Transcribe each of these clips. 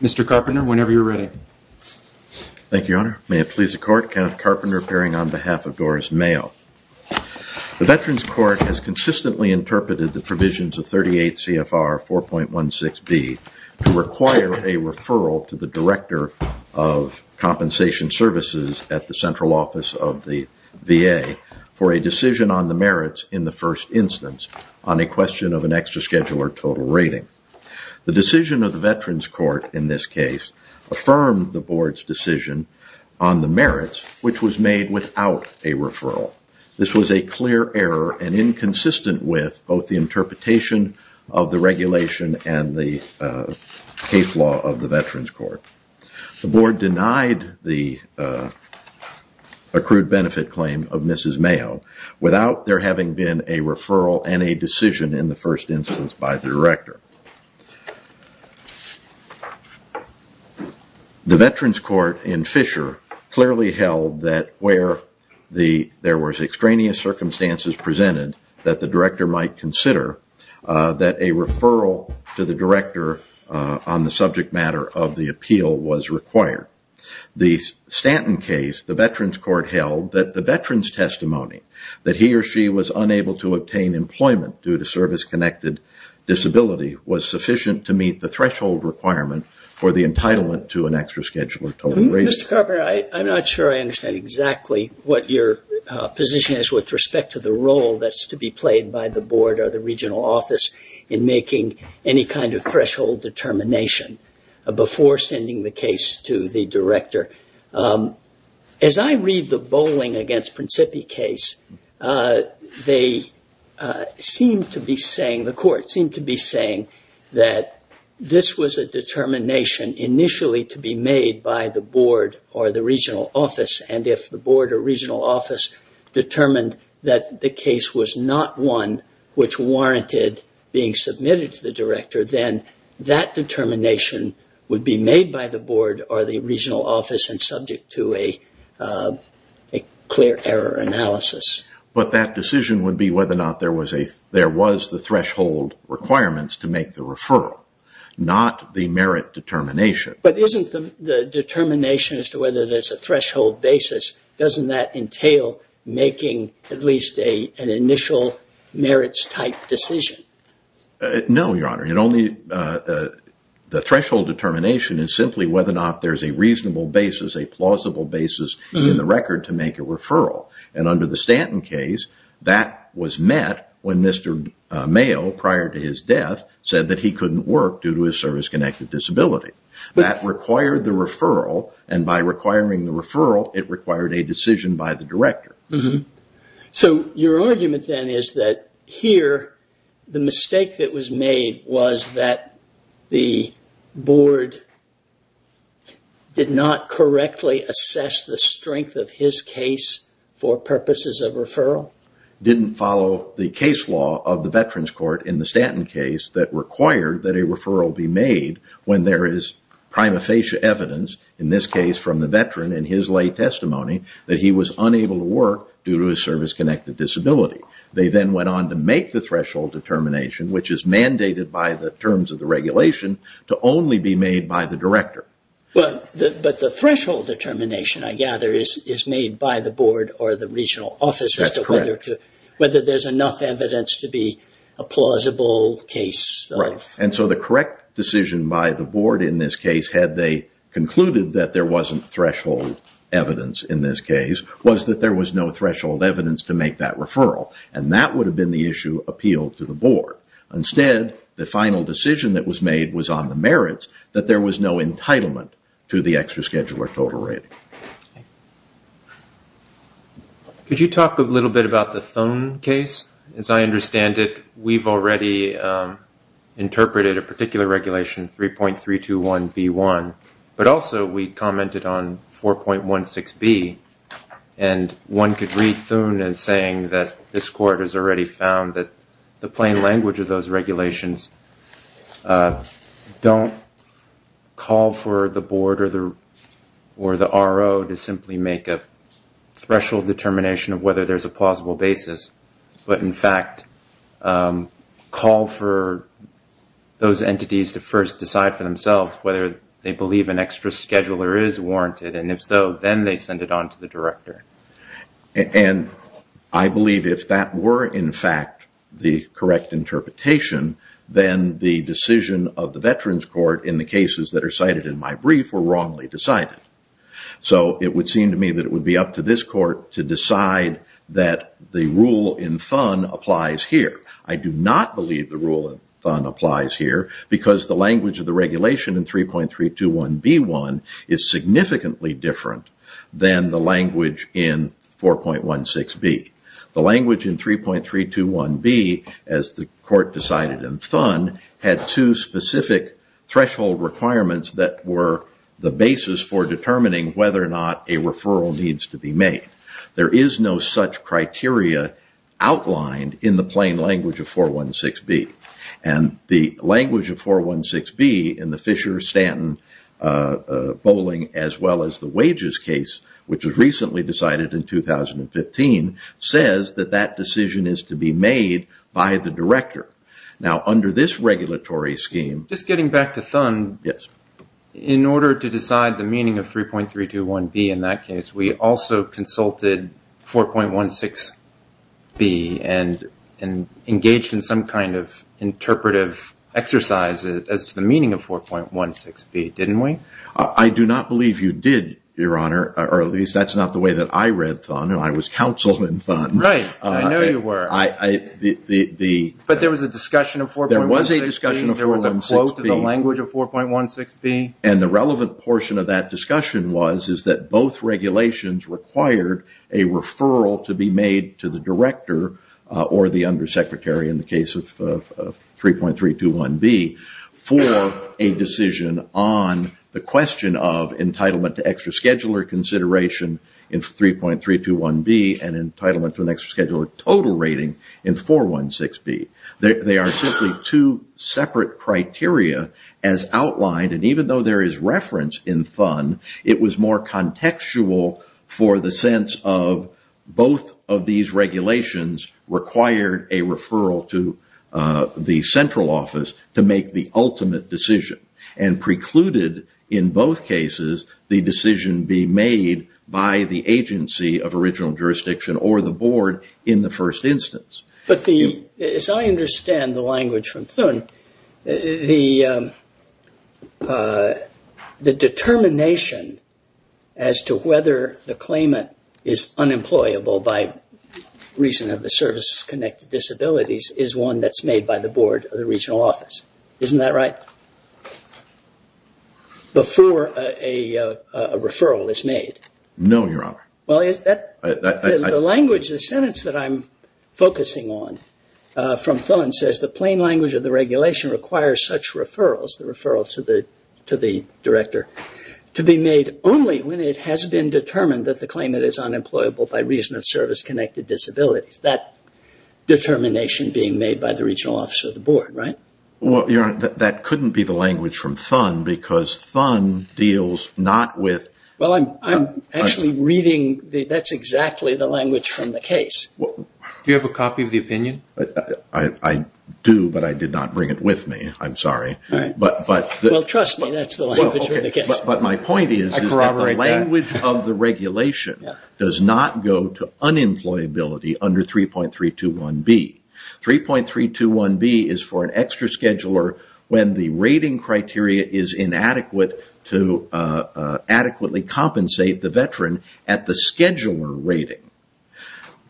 Mr. Carpenter, whenever you're ready. Thank you, Your Honor. May it please the Court, Kenneth Carpenter appearing on behalf of Doris Mayo. The Veterans Court has consistently to the Director of Compensation Services at the Central Office of the VA for a decision on the merits in the first instance on a question of an extra scheduler total rating. The decision of the Veterans Court in this case affirmed the Board's decision on the merits, which was made without a referral. This was a clear error and inconsistent with both the interpretation of the regulation and the case law of the Veterans Court. The Board denied the accrued benefit claim of Mrs. Mayo without there having been a referral and a decision in the first instance by the Director. The Veterans Court in Fisher clearly held that where there was extraneous circumstances presented that the Director might consider that a referral to the Director on the subject matter of the appeal was required. The Stanton case, the Veterans Court held that the Veterans' testimony that he or she was unable to obtain employment due to service-connected disability was sufficient to meet the threshold requirement for the entitlement to an extra scheduler total rating. Mr. Carpenter, I'm not sure I understand exactly what your position is with respect to the role that's to be played by the Board or the regional office in making any kind of threshold determination before sending the case to the Director. As I read the bowling against Principi case, they seem to be saying, the Court seemed to be saying that this was a determination initially to be made by the Board or the regional office and if the Board or regional office determined that the case was not one which warranted being submitted to the Director, then that determination would be made by the Board or the regional office and subject to a clear error analysis. That decision would be whether or not there was the threshold requirements to make the referral, not the merit determination. Isn't the determination as to whether there's a threshold basis, doesn't that entail making at least an initial merits type decision? No, Your Honor. The threshold determination is simply whether or not there's a reasonable basis, a plausible basis in the record to make a referral. Under the Stanton case, that was met when Mr. Mayo, prior to his death, said that he couldn't work due to his service-connected disability. That required the referral and by requiring the referral, it required a decision by the Director. Your argument then is that here, the mistake that was made was that the Board did not correctly assess the strength of his case for purposes of referral? Didn't follow the case law of the Veterans Court in the Stanton case that required that when there is prima facie evidence, in this case from the Veteran in his lay testimony, that he was unable to work due to his service-connected disability. They then went on to make the threshold determination, which is mandated by the terms of the regulation, to only be made by the Director. But the threshold determination, I gather, is made by the Board or the regional office as to whether there's enough evidence to be a plausible case. The correct decision by the Board in this case, had they concluded that there wasn't threshold evidence in this case, was that there was no threshold evidence to make that referral. That would have been the issue appealed to the Board. Instead, the final decision that was made was on the merits that there was no entitlement to the extra-schedule or total rating. Could you talk a little bit about the Thone case? As I understand it, we've already interpreted a particular regulation, 3.321B1, but also we commented on 4.16B, and one could read Thone as saying that this Court has already found that the plain language of those regulations don't call for the Board or the RO to simply make a threshold determination of whether there's a plausible basis, but in fact, call for those entities to first decide for themselves whether they believe an extra-schedule or is warranted, and if so, then they send it on to the Director. I believe if that were, in fact, the correct interpretation, then the decision of the Veterans Court in the cases that are cited in my brief were wrongly decided. It would seem to me that it would be up to this Court to decide that the rule in Thone applies here. I do not believe the rule in Thone applies here because the language of the regulation in 3.321B1 is significantly different than the language in 4.16B. The language in 3.321B, as the Court decided in Thone, had two specific threshold requirements that were the basis for determining whether or not a referral needs to be made. There is no such criteria outlined in the plain language of 4.16B, and the language of 4.16B in the Fisher-Stanton bowling as well as the wages case, which was recently decided in 2015, says that that decision is to be made by the Director. Now, under this regulatory scheme... In the meaning of 3.321B in that case, we also consulted 4.16B and engaged in some kind of interpretive exercise as to the meaning of 4.16B, didn't we? I do not believe you did, Your Honor, or at least that's not the way that I read Thone. I was counsel in Thone. Right. I know you were. But there was a discussion of 4.16B. There was a discussion of 4.16B. There was a quote in the language of 4.16B. The relevant portion of that discussion was that both regulations required a referral to be made to the Director or the Undersecretary in the case of 3.321B for a decision on the question of entitlement to extra scheduler consideration in 3.321B and entitlement to an extra scheduler total rating in 4.16B. They are simply two separate criteria as outlined. Even though there is reference in Thone, it was more contextual for the sense of both of these regulations required a referral to the Central Office to make the ultimate decision and precluded in both cases the decision being made by the agency of original jurisdiction or the Board in the first instance. But as I understand the language from Thone, the determination as to whether the claimant is unemployable by reason of the service-connected disabilities is one that is made by the Board of the Regional Office, isn't that right, before a referral is made? No, Your Honor. The sentence that I am focusing on from Thone says the plain language of the regulation requires such referrals, the referral to the Director, to be made only when it has been determined that the claimant is unemployable by reason of service-connected disabilities. That determination being made by the Regional Office of the Board, right? That couldn't be the language from Thone because Thone deals not with... I am actually reading that is exactly the language from the case. Do you have a copy of the opinion? I do, but I did not bring it with me. I am sorry. Trust me, that is the language from the case. My point is that the language of the regulation does not go to unemployability under 3.321b. 3.321b is for an extra scheduler when the rating criteria is inadequate to adequately compensate the veteran at the scheduler rating.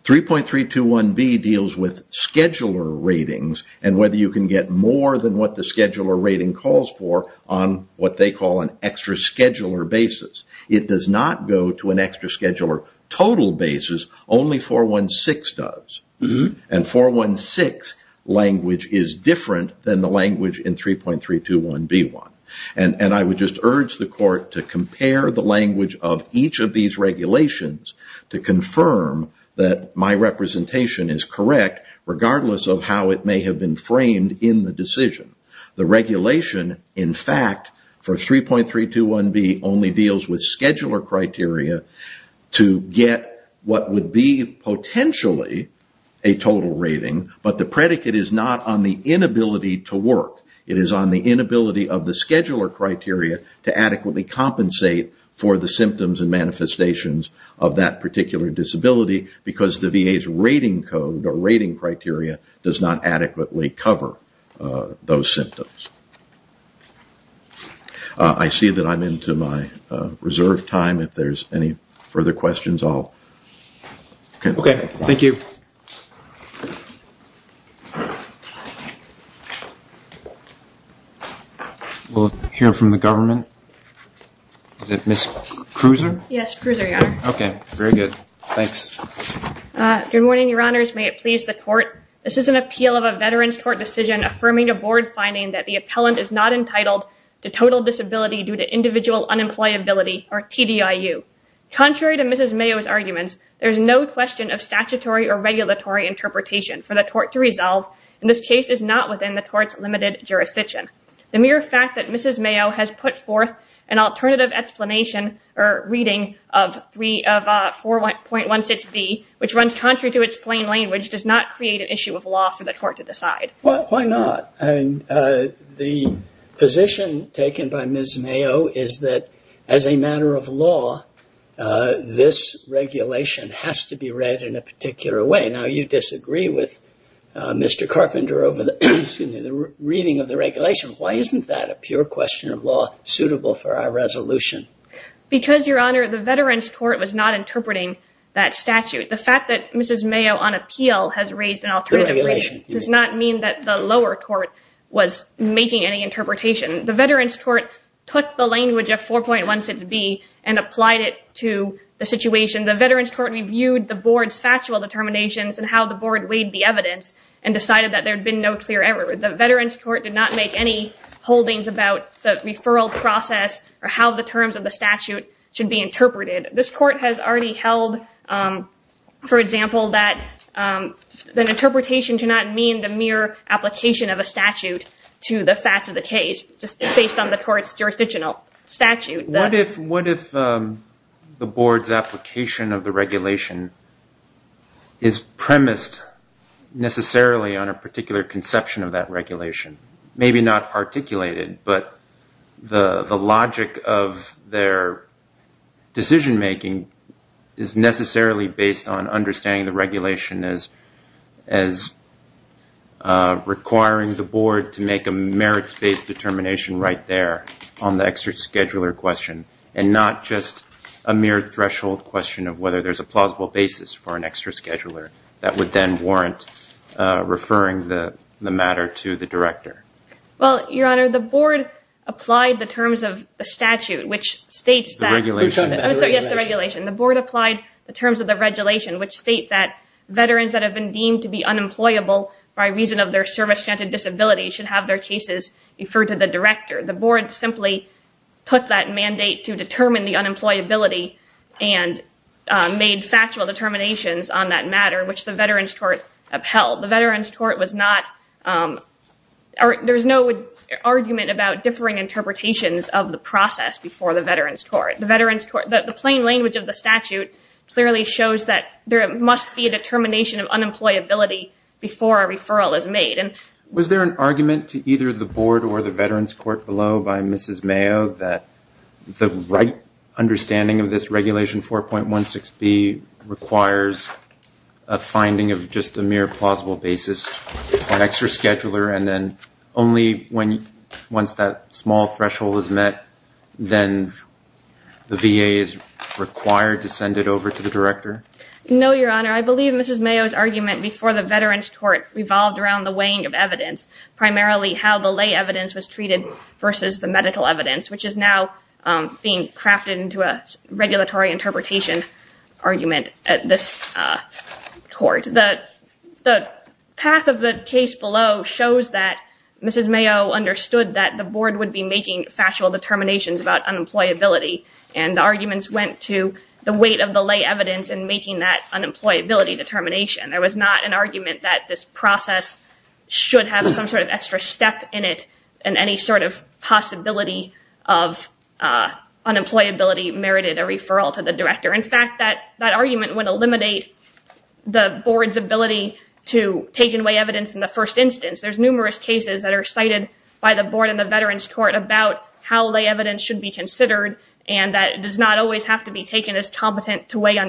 3.321b deals with scheduler ratings and whether you can get more than what the scheduler rating calls for on what they call an extra scheduler basis. It does not go to an extra scheduler total basis. Only 416 does, and 416 language is different than the language in 3.321b1. I would just urge the court to compare the language of each of these regulations to confirm that my representation is correct regardless of how it may have been framed in the decision. The regulation, in fact, for 3.321b only deals with scheduler criteria to get what would be potentially a total rating, but the predicate is not on the inability to work. It is on the inability of the scheduler criteria to adequately compensate for the symptoms and manifestations of that particular disability because the VA's rating code or rating criteria does not adequately cover those symptoms. I see that I am into my reserved time. If there are any further questions, I will... We'll hear from the government. Is it Ms. Cruiser? Yes, Cruiser, yeah. Okay, very good. Thanks. Good morning, your honors. May it please the court. This is an appeal of a veteran's court decision affirming a board finding that the appellant is not entitled to total disability due to individual unemployability or TDIU. Contrary to Mrs. Mayo's arguments, there is no question of statutory or regulatory interpretation for the court to resolve, and this case is not within the court's limited jurisdiction. The mere fact that Mrs. Mayo has put forth an alternative explanation or reading of 4.16b, which runs contrary to its plain language, does not create an issue of law for the court to decide. Well, why not? The position taken by Ms. Mayo is that as a matter of law, this regulation has to be read in a particular way. Now, you disagree with Mr. Carpenter over the reading of the regulation. Why isn't that a pure question of law suitable for our resolution? Because, your honor, the veteran's court was not interpreting that statute. The fact that Mrs. Mayo, on appeal, has raised an alternative... The regulation. ...does not mean that the lower court was making any interpretation. The veteran's court took the language of 4.16b and applied it to the situation. The veteran's court reviewed the board's factual determinations and how the board weighed the evidence and decided that there had been no clear error. The veteran's court did not make any holdings about the referral process or how the terms of the statute should be interpreted. This court has already held, for example, that an interpretation do not mean the mere application of a statute to the facts of the case, just based on the court's jurisdictional statute. What if the board's application of the regulation is premised necessarily on a particular conception of that regulation? Maybe not articulated, but the logic of their decision-making is necessarily based on understanding the regulation as requiring the board to make a merits-based determination right there on the extra-scheduler question, and not just a mere threshold question of whether there's a plausible basis for an extra-scheduler that would then warrant referring the matter to the director. Well, Your Honor, the board applied the terms of the statute, which states that... The regulation. Yes, the regulation. The board applied the terms of the regulation, which state that veterans that have been deemed to be unemployable by reason of their service-granted disability should have their cases referred to the director. The board simply took that mandate to determine the unemployability and made factual determinations on that matter, which the veterans' court upheld. The veterans' court was not... There's no argument about differing interpretations of the process before the veterans' court. The plain language of the statute clearly shows that there must be a determination of unemployability before a referral is made. Was there an argument to either the board or the veterans' court below by Mrs. Mayo that the right understanding of this regulation 4.16B requires a finding of just a mere plausible basis for an extra-scheduler, and then only once that small threshold is met, then the VA is required to send it over to the director? No, Your Honor. I believe Mrs. Mayo's argument before the veterans' court revolved around the weighing of evidence, primarily how the lay evidence was treated versus the medical evidence, which is now being crafted into a regulatory interpretation argument at this court. The path of the case below shows that Mrs. Mayo understood that the board would be making factual determinations about unemployability, and the arguments went to the weight of the lay evidence in making that unemployability determination. There was not an argument that this process should have some sort of extra step in it, and any sort of possibility of unemployability merited a referral to the director. In fact, that argument would eliminate the board's ability to take and weigh evidence in the first instance. There's numerous cases that are cited by the board in the veterans' court about how lay on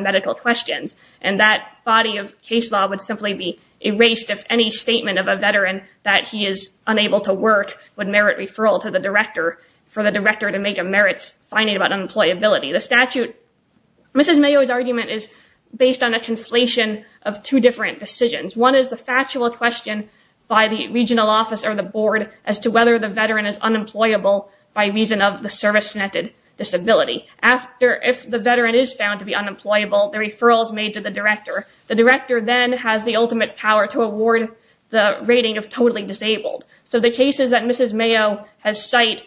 medical questions, and that body of case law would simply be erased if any statement of a veteran that he is unable to work would merit referral to the director for the director to make a merits finding about unemployability. Mrs. Mayo's argument is based on a conflation of two different decisions. One is the factual question by the regional office or the board as to whether the veteran is unemployable by reason of the service-connected disability. If the veteran is found to be unemployable, the referral is made to the director. The director then has the ultimate power to award the rating of totally disabled. So the cases that Mrs. Mayo has cited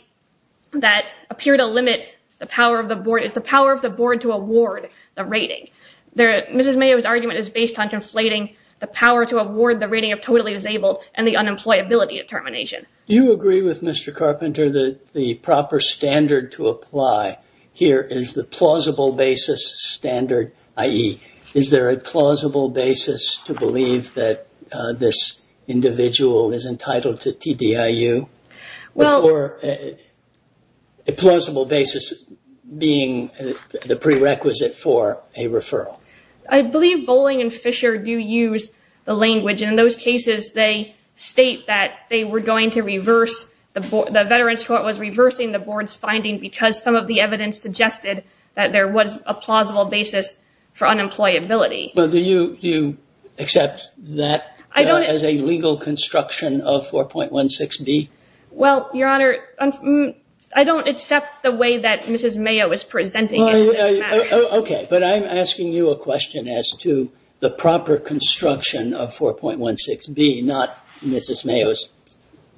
that appear to limit the power of the board is the power of the board to award the rating. Mrs. Mayo's argument is based on conflating the power to award the rating of totally disabled and the unemployability determination. Do you agree with Mr. Carpenter that the proper standard to apply here is the plausible basis standard, i.e., is there a plausible basis to believe that this individual is entitled to TDIU? Or a plausible basis being the prerequisite for a referral? I believe Bolling and Fisher do use the language, and in those cases they state that they were going to reverse the board. The Veterans Court was reversing the board's finding because some of the evidence suggested that there was a plausible basis for unemployability. Do you accept that as a legal construction of 4.16b? Well, Your Honor, I don't accept the way that Mrs. Mayo is presenting it. But I'm asking you a question as to the proper construction of 4.16b, not Mrs. Mayo's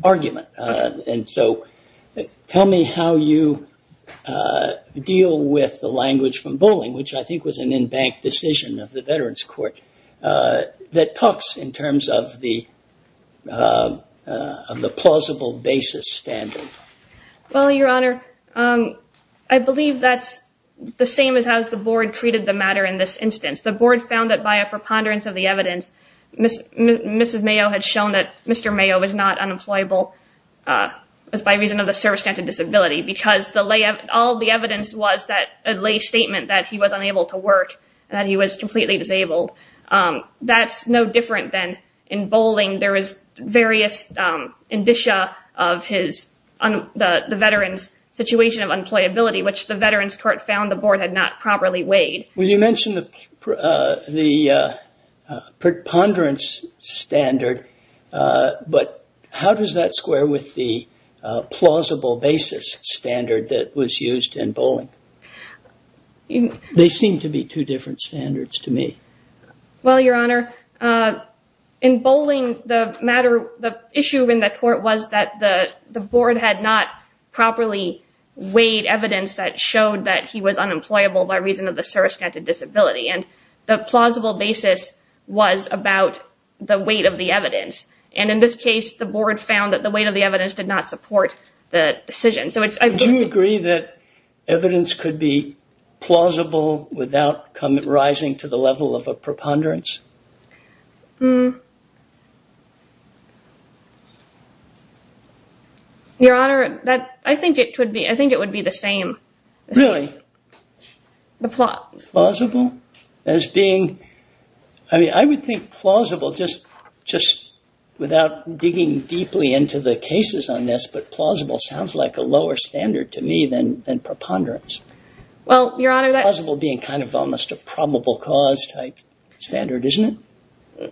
argument. And so tell me how you deal with the language from Bolling, which I think was an in-bank decision of the Veterans Court, that talks in terms of the plausible basis standard. Well, Your Honor, I believe that's the same as how the board treated the matter in this instance. The board found that by a preponderance of the evidence, Mrs. Mayo had shown that Mr. Mayo was not unemployable by reason of a service-standard disability because all the evidence was that a lay statement that he was unable to work, that he was completely disabled. That's no different than in Bolling. There is various indicia of the veteran's situation of unemployability, which the Veterans Court found the board had not properly weighed. Well, you mentioned the preponderance standard. But how does that square with the plausible basis standard that was used in Bolling? They seem to be two different standards to me. Well, Your Honor, in Bolling, the issue in the court was that the board had not properly weighed evidence that showed that he was unemployable by reason of a service-standard disability. And the plausible basis was about the weight of the evidence. And in this case, the board found that the weight of the evidence did not support the decision. Do you agree that evidence could be plausible without rising to the level of a preponderance? Your Honor, I think it would be the same. Really? The plot. Plausible? I mean, I would think plausible, just without digging deeply into the cases on this, but plausible sounds like a lower standard to me than preponderance. Plausible being kind of almost a probable cause type standard, isn't it?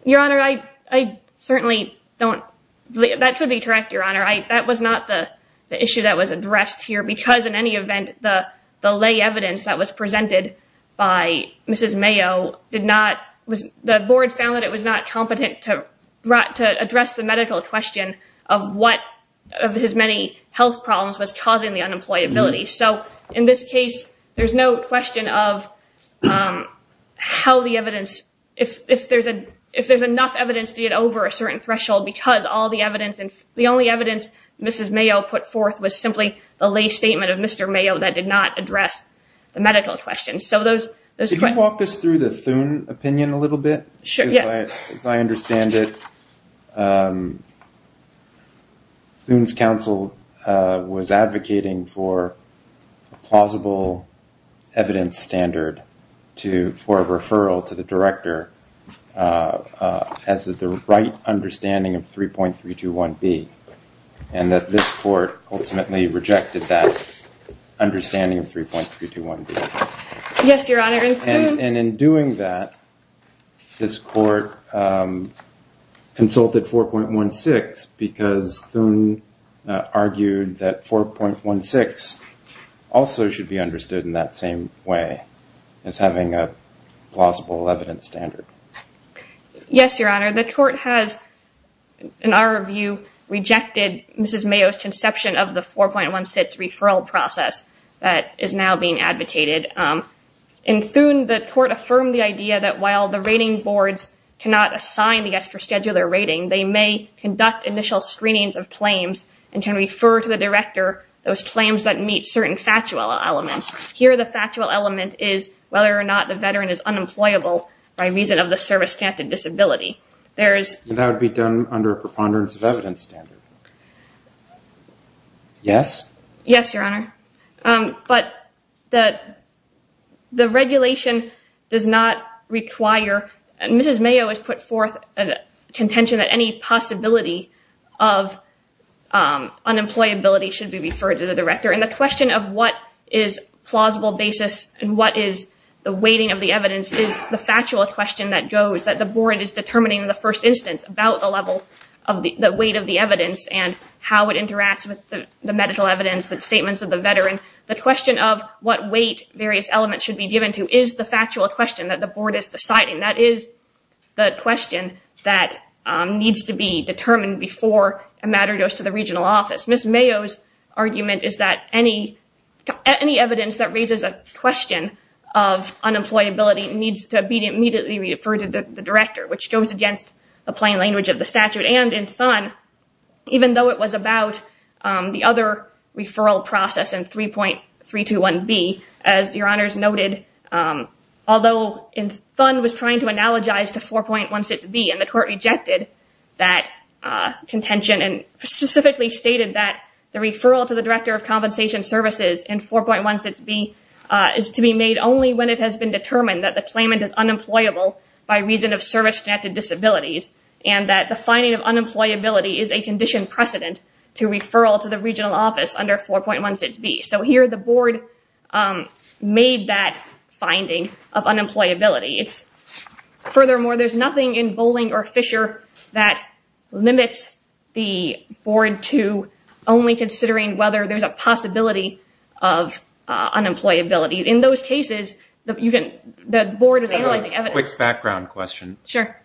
Your Honor, that could be correct, Your Honor. That was not the issue that was addressed here because, in any event, the lay evidence that was presented by Mrs. Mayo, the board found that it was not competent to address the medical question of what, of his many health problems, was causing the unemployability. So in this case, there's no question of how the evidence, if there's enough evidence to get over a certain threshold because all the evidence, the only evidence Mrs. Mayo put forth was simply the lay statement of Mr. Mayo that did not address the medical question. Can you walk us through the Thune opinion a little bit? As I understand it, Thune's counsel was advocating for a plausible evidence standard for a referral to the director as the right understanding of 3.321B, and that this court ultimately rejected that understanding of 3.321B. Yes, Your Honor. And in doing that, this court consulted 4.16 because Thune argued that 4.16 also should be understood in that same way, as having a plausible evidence standard. Yes, Your Honor. The court has, in our view, rejected Mrs. Mayo's conception of the 4.16 referral process that is now being advocated. In Thune, the court affirmed the idea that while the rating boards cannot assign the extra scheduler rating, they may conduct initial screenings of claims and can refer to the director those claims that meet certain factual elements. Here, the factual element is whether or not the veteran is unemployable by reason of the service-connected disability. That would be done under a preponderance of evidence standard. Yes? Yes, Your Honor. But the regulation does not require, and Mrs. Mayo has put forth a contention that any possibility of unemployability should be referred to the director. And the question of what is plausible basis and what is the weighting of the evidence is the factual question that goes, that the board is determining in the first instance about the weight of the evidence and how it interacts with the medical evidence, the statements of the veteran. The question of what weight various elements should be given to is the factual question that the board is deciding. That is the question that needs to be determined before a matter goes to the regional office. Mrs. Mayo's argument is that any evidence that raises a question of unemployability needs to be immediately referred to the director, which goes against the plain language of the statute. And in Thun, even though it was about the other referral process in 3.321B, as Your Honors noted, although Thun was trying to analogize to 4.16B and the court rejected that contention and specifically stated that the referral to the director of compensation services in 4.16B is to be made only when it has been determined that the claimant is unemployable by reason of service-connected disabilities and that the finding of unemployability is a condition precedent to referral to the regional office under 4.16B. So here the board made that finding of unemployability. Furthermore, there's nothing in Bowling or Fisher that limits the board to only considering whether there's a possibility of unemployability. In those cases, the board is analyzing evidence. Quick background question. Sure.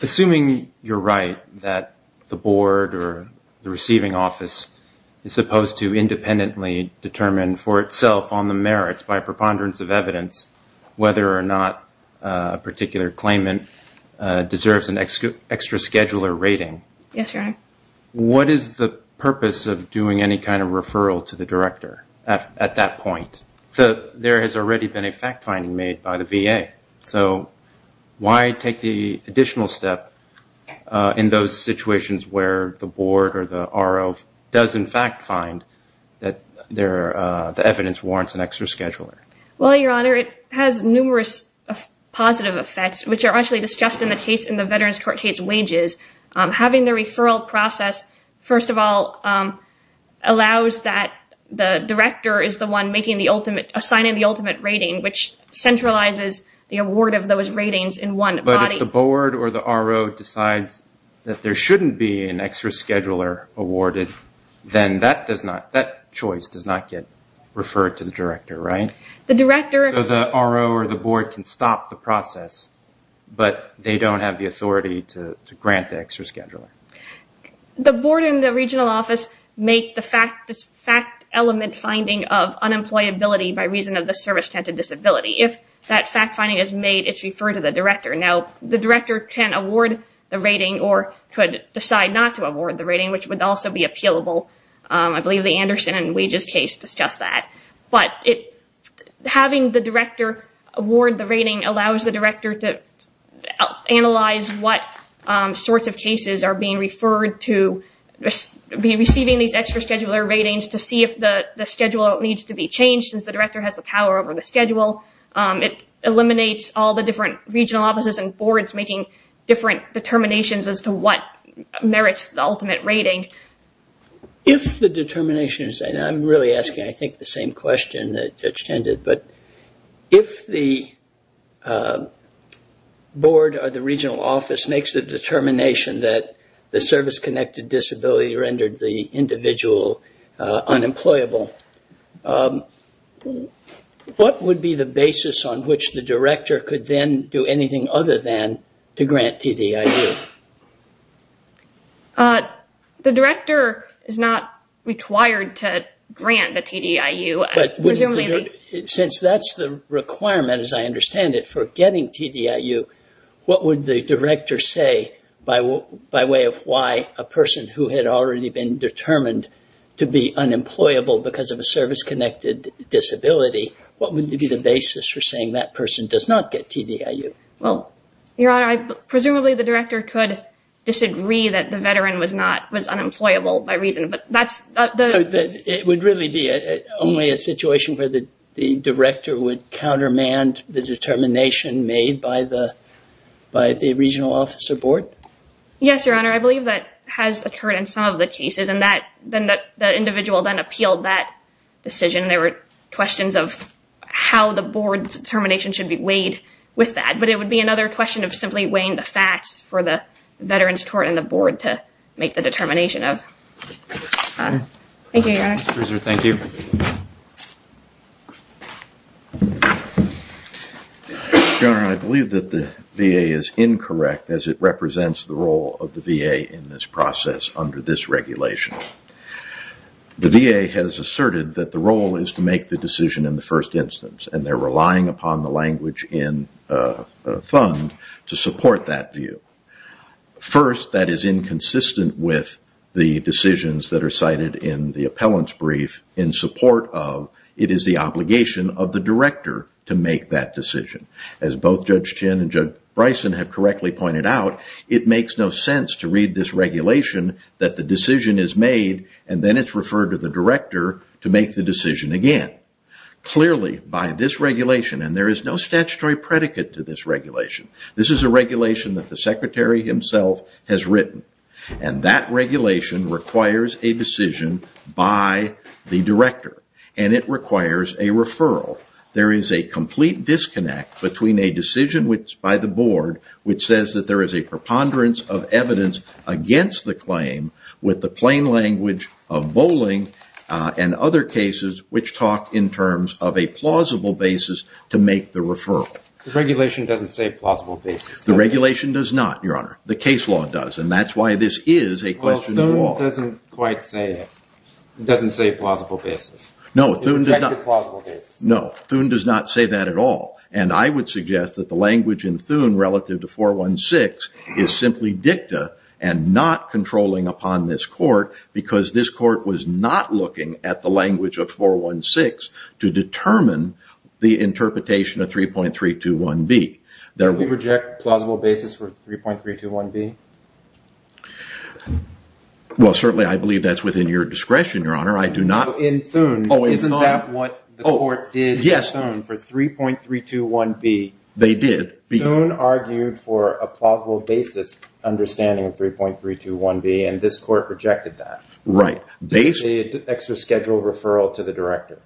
Assuming you're right that the board or the receiving office is supposed to independently determine for itself on the merits by preponderance of evidence whether or not a particular claimant deserves an extra scheduler rating. Yes, Your Honor. What is the purpose of doing any kind of referral to the director at that point? There has already been a fact-finding made by the VA. So why take the additional step in those situations where the board or the RO does in fact find that the evidence warrants an extra scheduler? Well, Your Honor, it has numerous positive effects, which are actually discussed in the case in the Veterans Court case wages. Having the referral process, first of all, allows that the director is the one making the ultimate, assigning the ultimate rating, which centralizes the award of those ratings in one body. But if the board or the RO decides that there shouldn't be an extra scheduler awarded, then that choice does not get referred to the director, right? The director... So the RO or the board can stop the process, but they don't have the authority to grant the extra scheduler. The board and the regional office make the fact-element finding of unemployability by reason of the service-tented disability. If that fact-finding is made, it's referred to the director. Now, the director can award the rating or could decide not to award the rating, which would also be appealable. I believe the Anderson and Wages case discussed that. But having the director award the rating allows the director to analyze what sorts of cases are being referred to, be receiving these extra scheduler ratings to see if the schedule needs to be changed, since the director has the power over the schedule. It eliminates all the different regional offices and boards making different determinations as to what merits the ultimate rating. If the determination is... And I'm really asking, I think, the same question that Judge tended. But if the board or the regional office makes the determination that the service-connected disability rendered the individual unemployable, what would be the basis on which the director could then do anything other than to grant TDIU? The director is not required to grant the TDIU. Since that's the requirement, as I understand it, for getting TDIU, what would the director say by way of why a person who had already been determined to be unemployable because of a service-connected disability, what would be the basis for saying that person does not get TDIU? Well, Your Honor, presumably the director could disagree that the veteran was unemployable by reason. It would really be only a situation where the director would countermand the determination made by the regional office or board? Yes, Your Honor. Your Honor, I believe that has occurred in some of the cases, and the individual then appealed that decision. There were questions of how the board's determination should be weighed with that. But it would be another question of simply weighing the facts for the veterans court and the board to make the determination of. Thank you, Your Honor. Thank you. Your Honor, I believe that the VA is incorrect as it represents the role of the VA in this process under this regulation. The VA has asserted that the role is to make the decision in the first instance, and they're relying upon the language in the fund to support that view. First, that is inconsistent with the decisions that are cited in the appellant's brief in support of, it is the obligation of the director to make that decision. As both Judge Chin and Judge Bryson have correctly pointed out, it makes no sense to read this regulation that the decision is made, and then it's referred to the director to make the decision again. Clearly, by this regulation, and there is no statutory predicate to this regulation, this is a regulation that the secretary himself has written, and that regulation requires a decision by the director, and it requires a referral. There is a complete disconnect between a decision by the board, which says that there is a preponderance of evidence against the claim with the plain language of bowling, and other cases which talk in terms of a plausible basis to make the referral. The regulation doesn't say plausible basis. The regulation does not, Your Honor. The case law does, and that's why this is a question of law. Thune doesn't quite say it. It doesn't say plausible basis. No, Thune does not say that at all, and I would suggest that the language in Thune relative to 416 is simply dicta, and not controlling upon this court because this court was not looking at the language of 416 to determine the interpretation of 3.321B. Do we reject plausible basis for 3.321B? Well, certainly I believe that's within your discretion, Your Honor. In Thune, isn't that what the court did in Thune for 3.321B? They did. Thune argued for a plausible basis understanding of 3.321B, and this court rejected that. The extra scheduled referral to the director.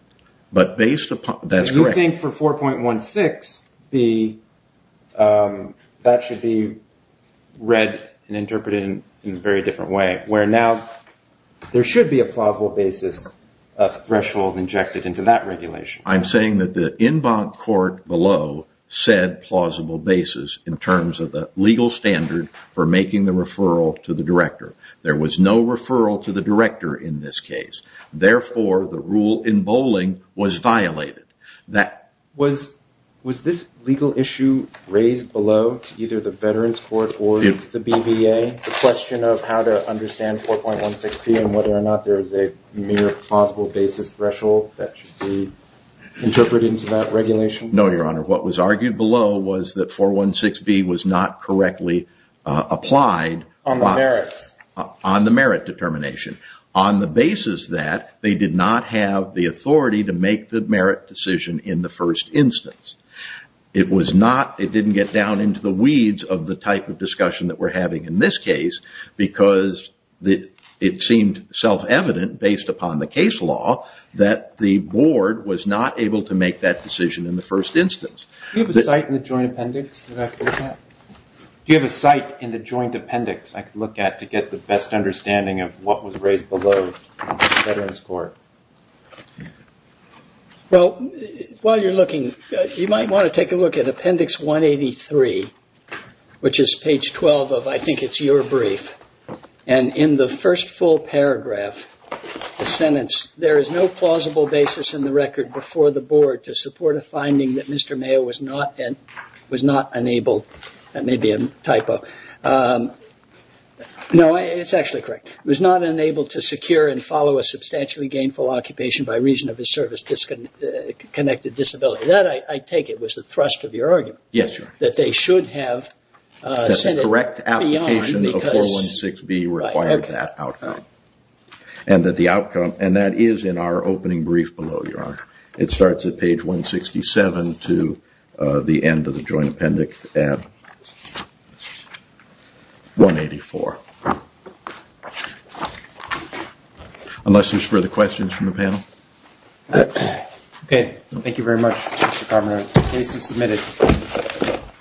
That's correct. Do you think for 4.16B, that should be read and interpreted in a very different way, where now there should be a plausible basis threshold injected into that regulation? I'm saying that the en banc court below said plausible basis in terms of the legal standard for making the referral to the director. There was no referral to the director in this case. Therefore, the rule in bowling was violated. Was this legal issue raised below to either the veterans court or the BBA? The question of how to understand 4.16B and whether or not there is a mere plausible basis threshold that should be interpreted into that regulation? No, Your Honor. What was argued below was that 4.16B was not correctly applied. On the merits? On the merit determination. On the basis that they did not have the authority to make the merit decision in the first instance. It didn't get down into the weeds of the type of discussion that we're having in this case because it seemed self-evident, based upon the case law, that the board was not able to make that decision in the first instance. Do you have a site in the joint appendix? Do you have a site in the joint appendix I could look at to get the best understanding of what was raised below in the veterans court? Well, while you're looking, you might want to take a look at appendix 183, which is page 12 of I think it's your brief. And in the first full paragraph, the sentence, there is no plausible basis in the record before the board to support a finding that Mr. Mayo was not enabled, that may be a typo. No, it's actually correct. Was not enabled to secure and follow a substantially gainful occupation by reason of his service-connected disability. That, I take it, was the thrust of your argument. Yes, Your Honor. That they should have sent it beyond because. That the correct application of 4.16B required that outcome. And that the outcome, and that is in our opening brief below, Your Honor. It starts at page 167 to the end of the joint appendix at 184. Unless there's further questions from the panel. Okay. Thank you very much, Mr. Carman. The case is submitted.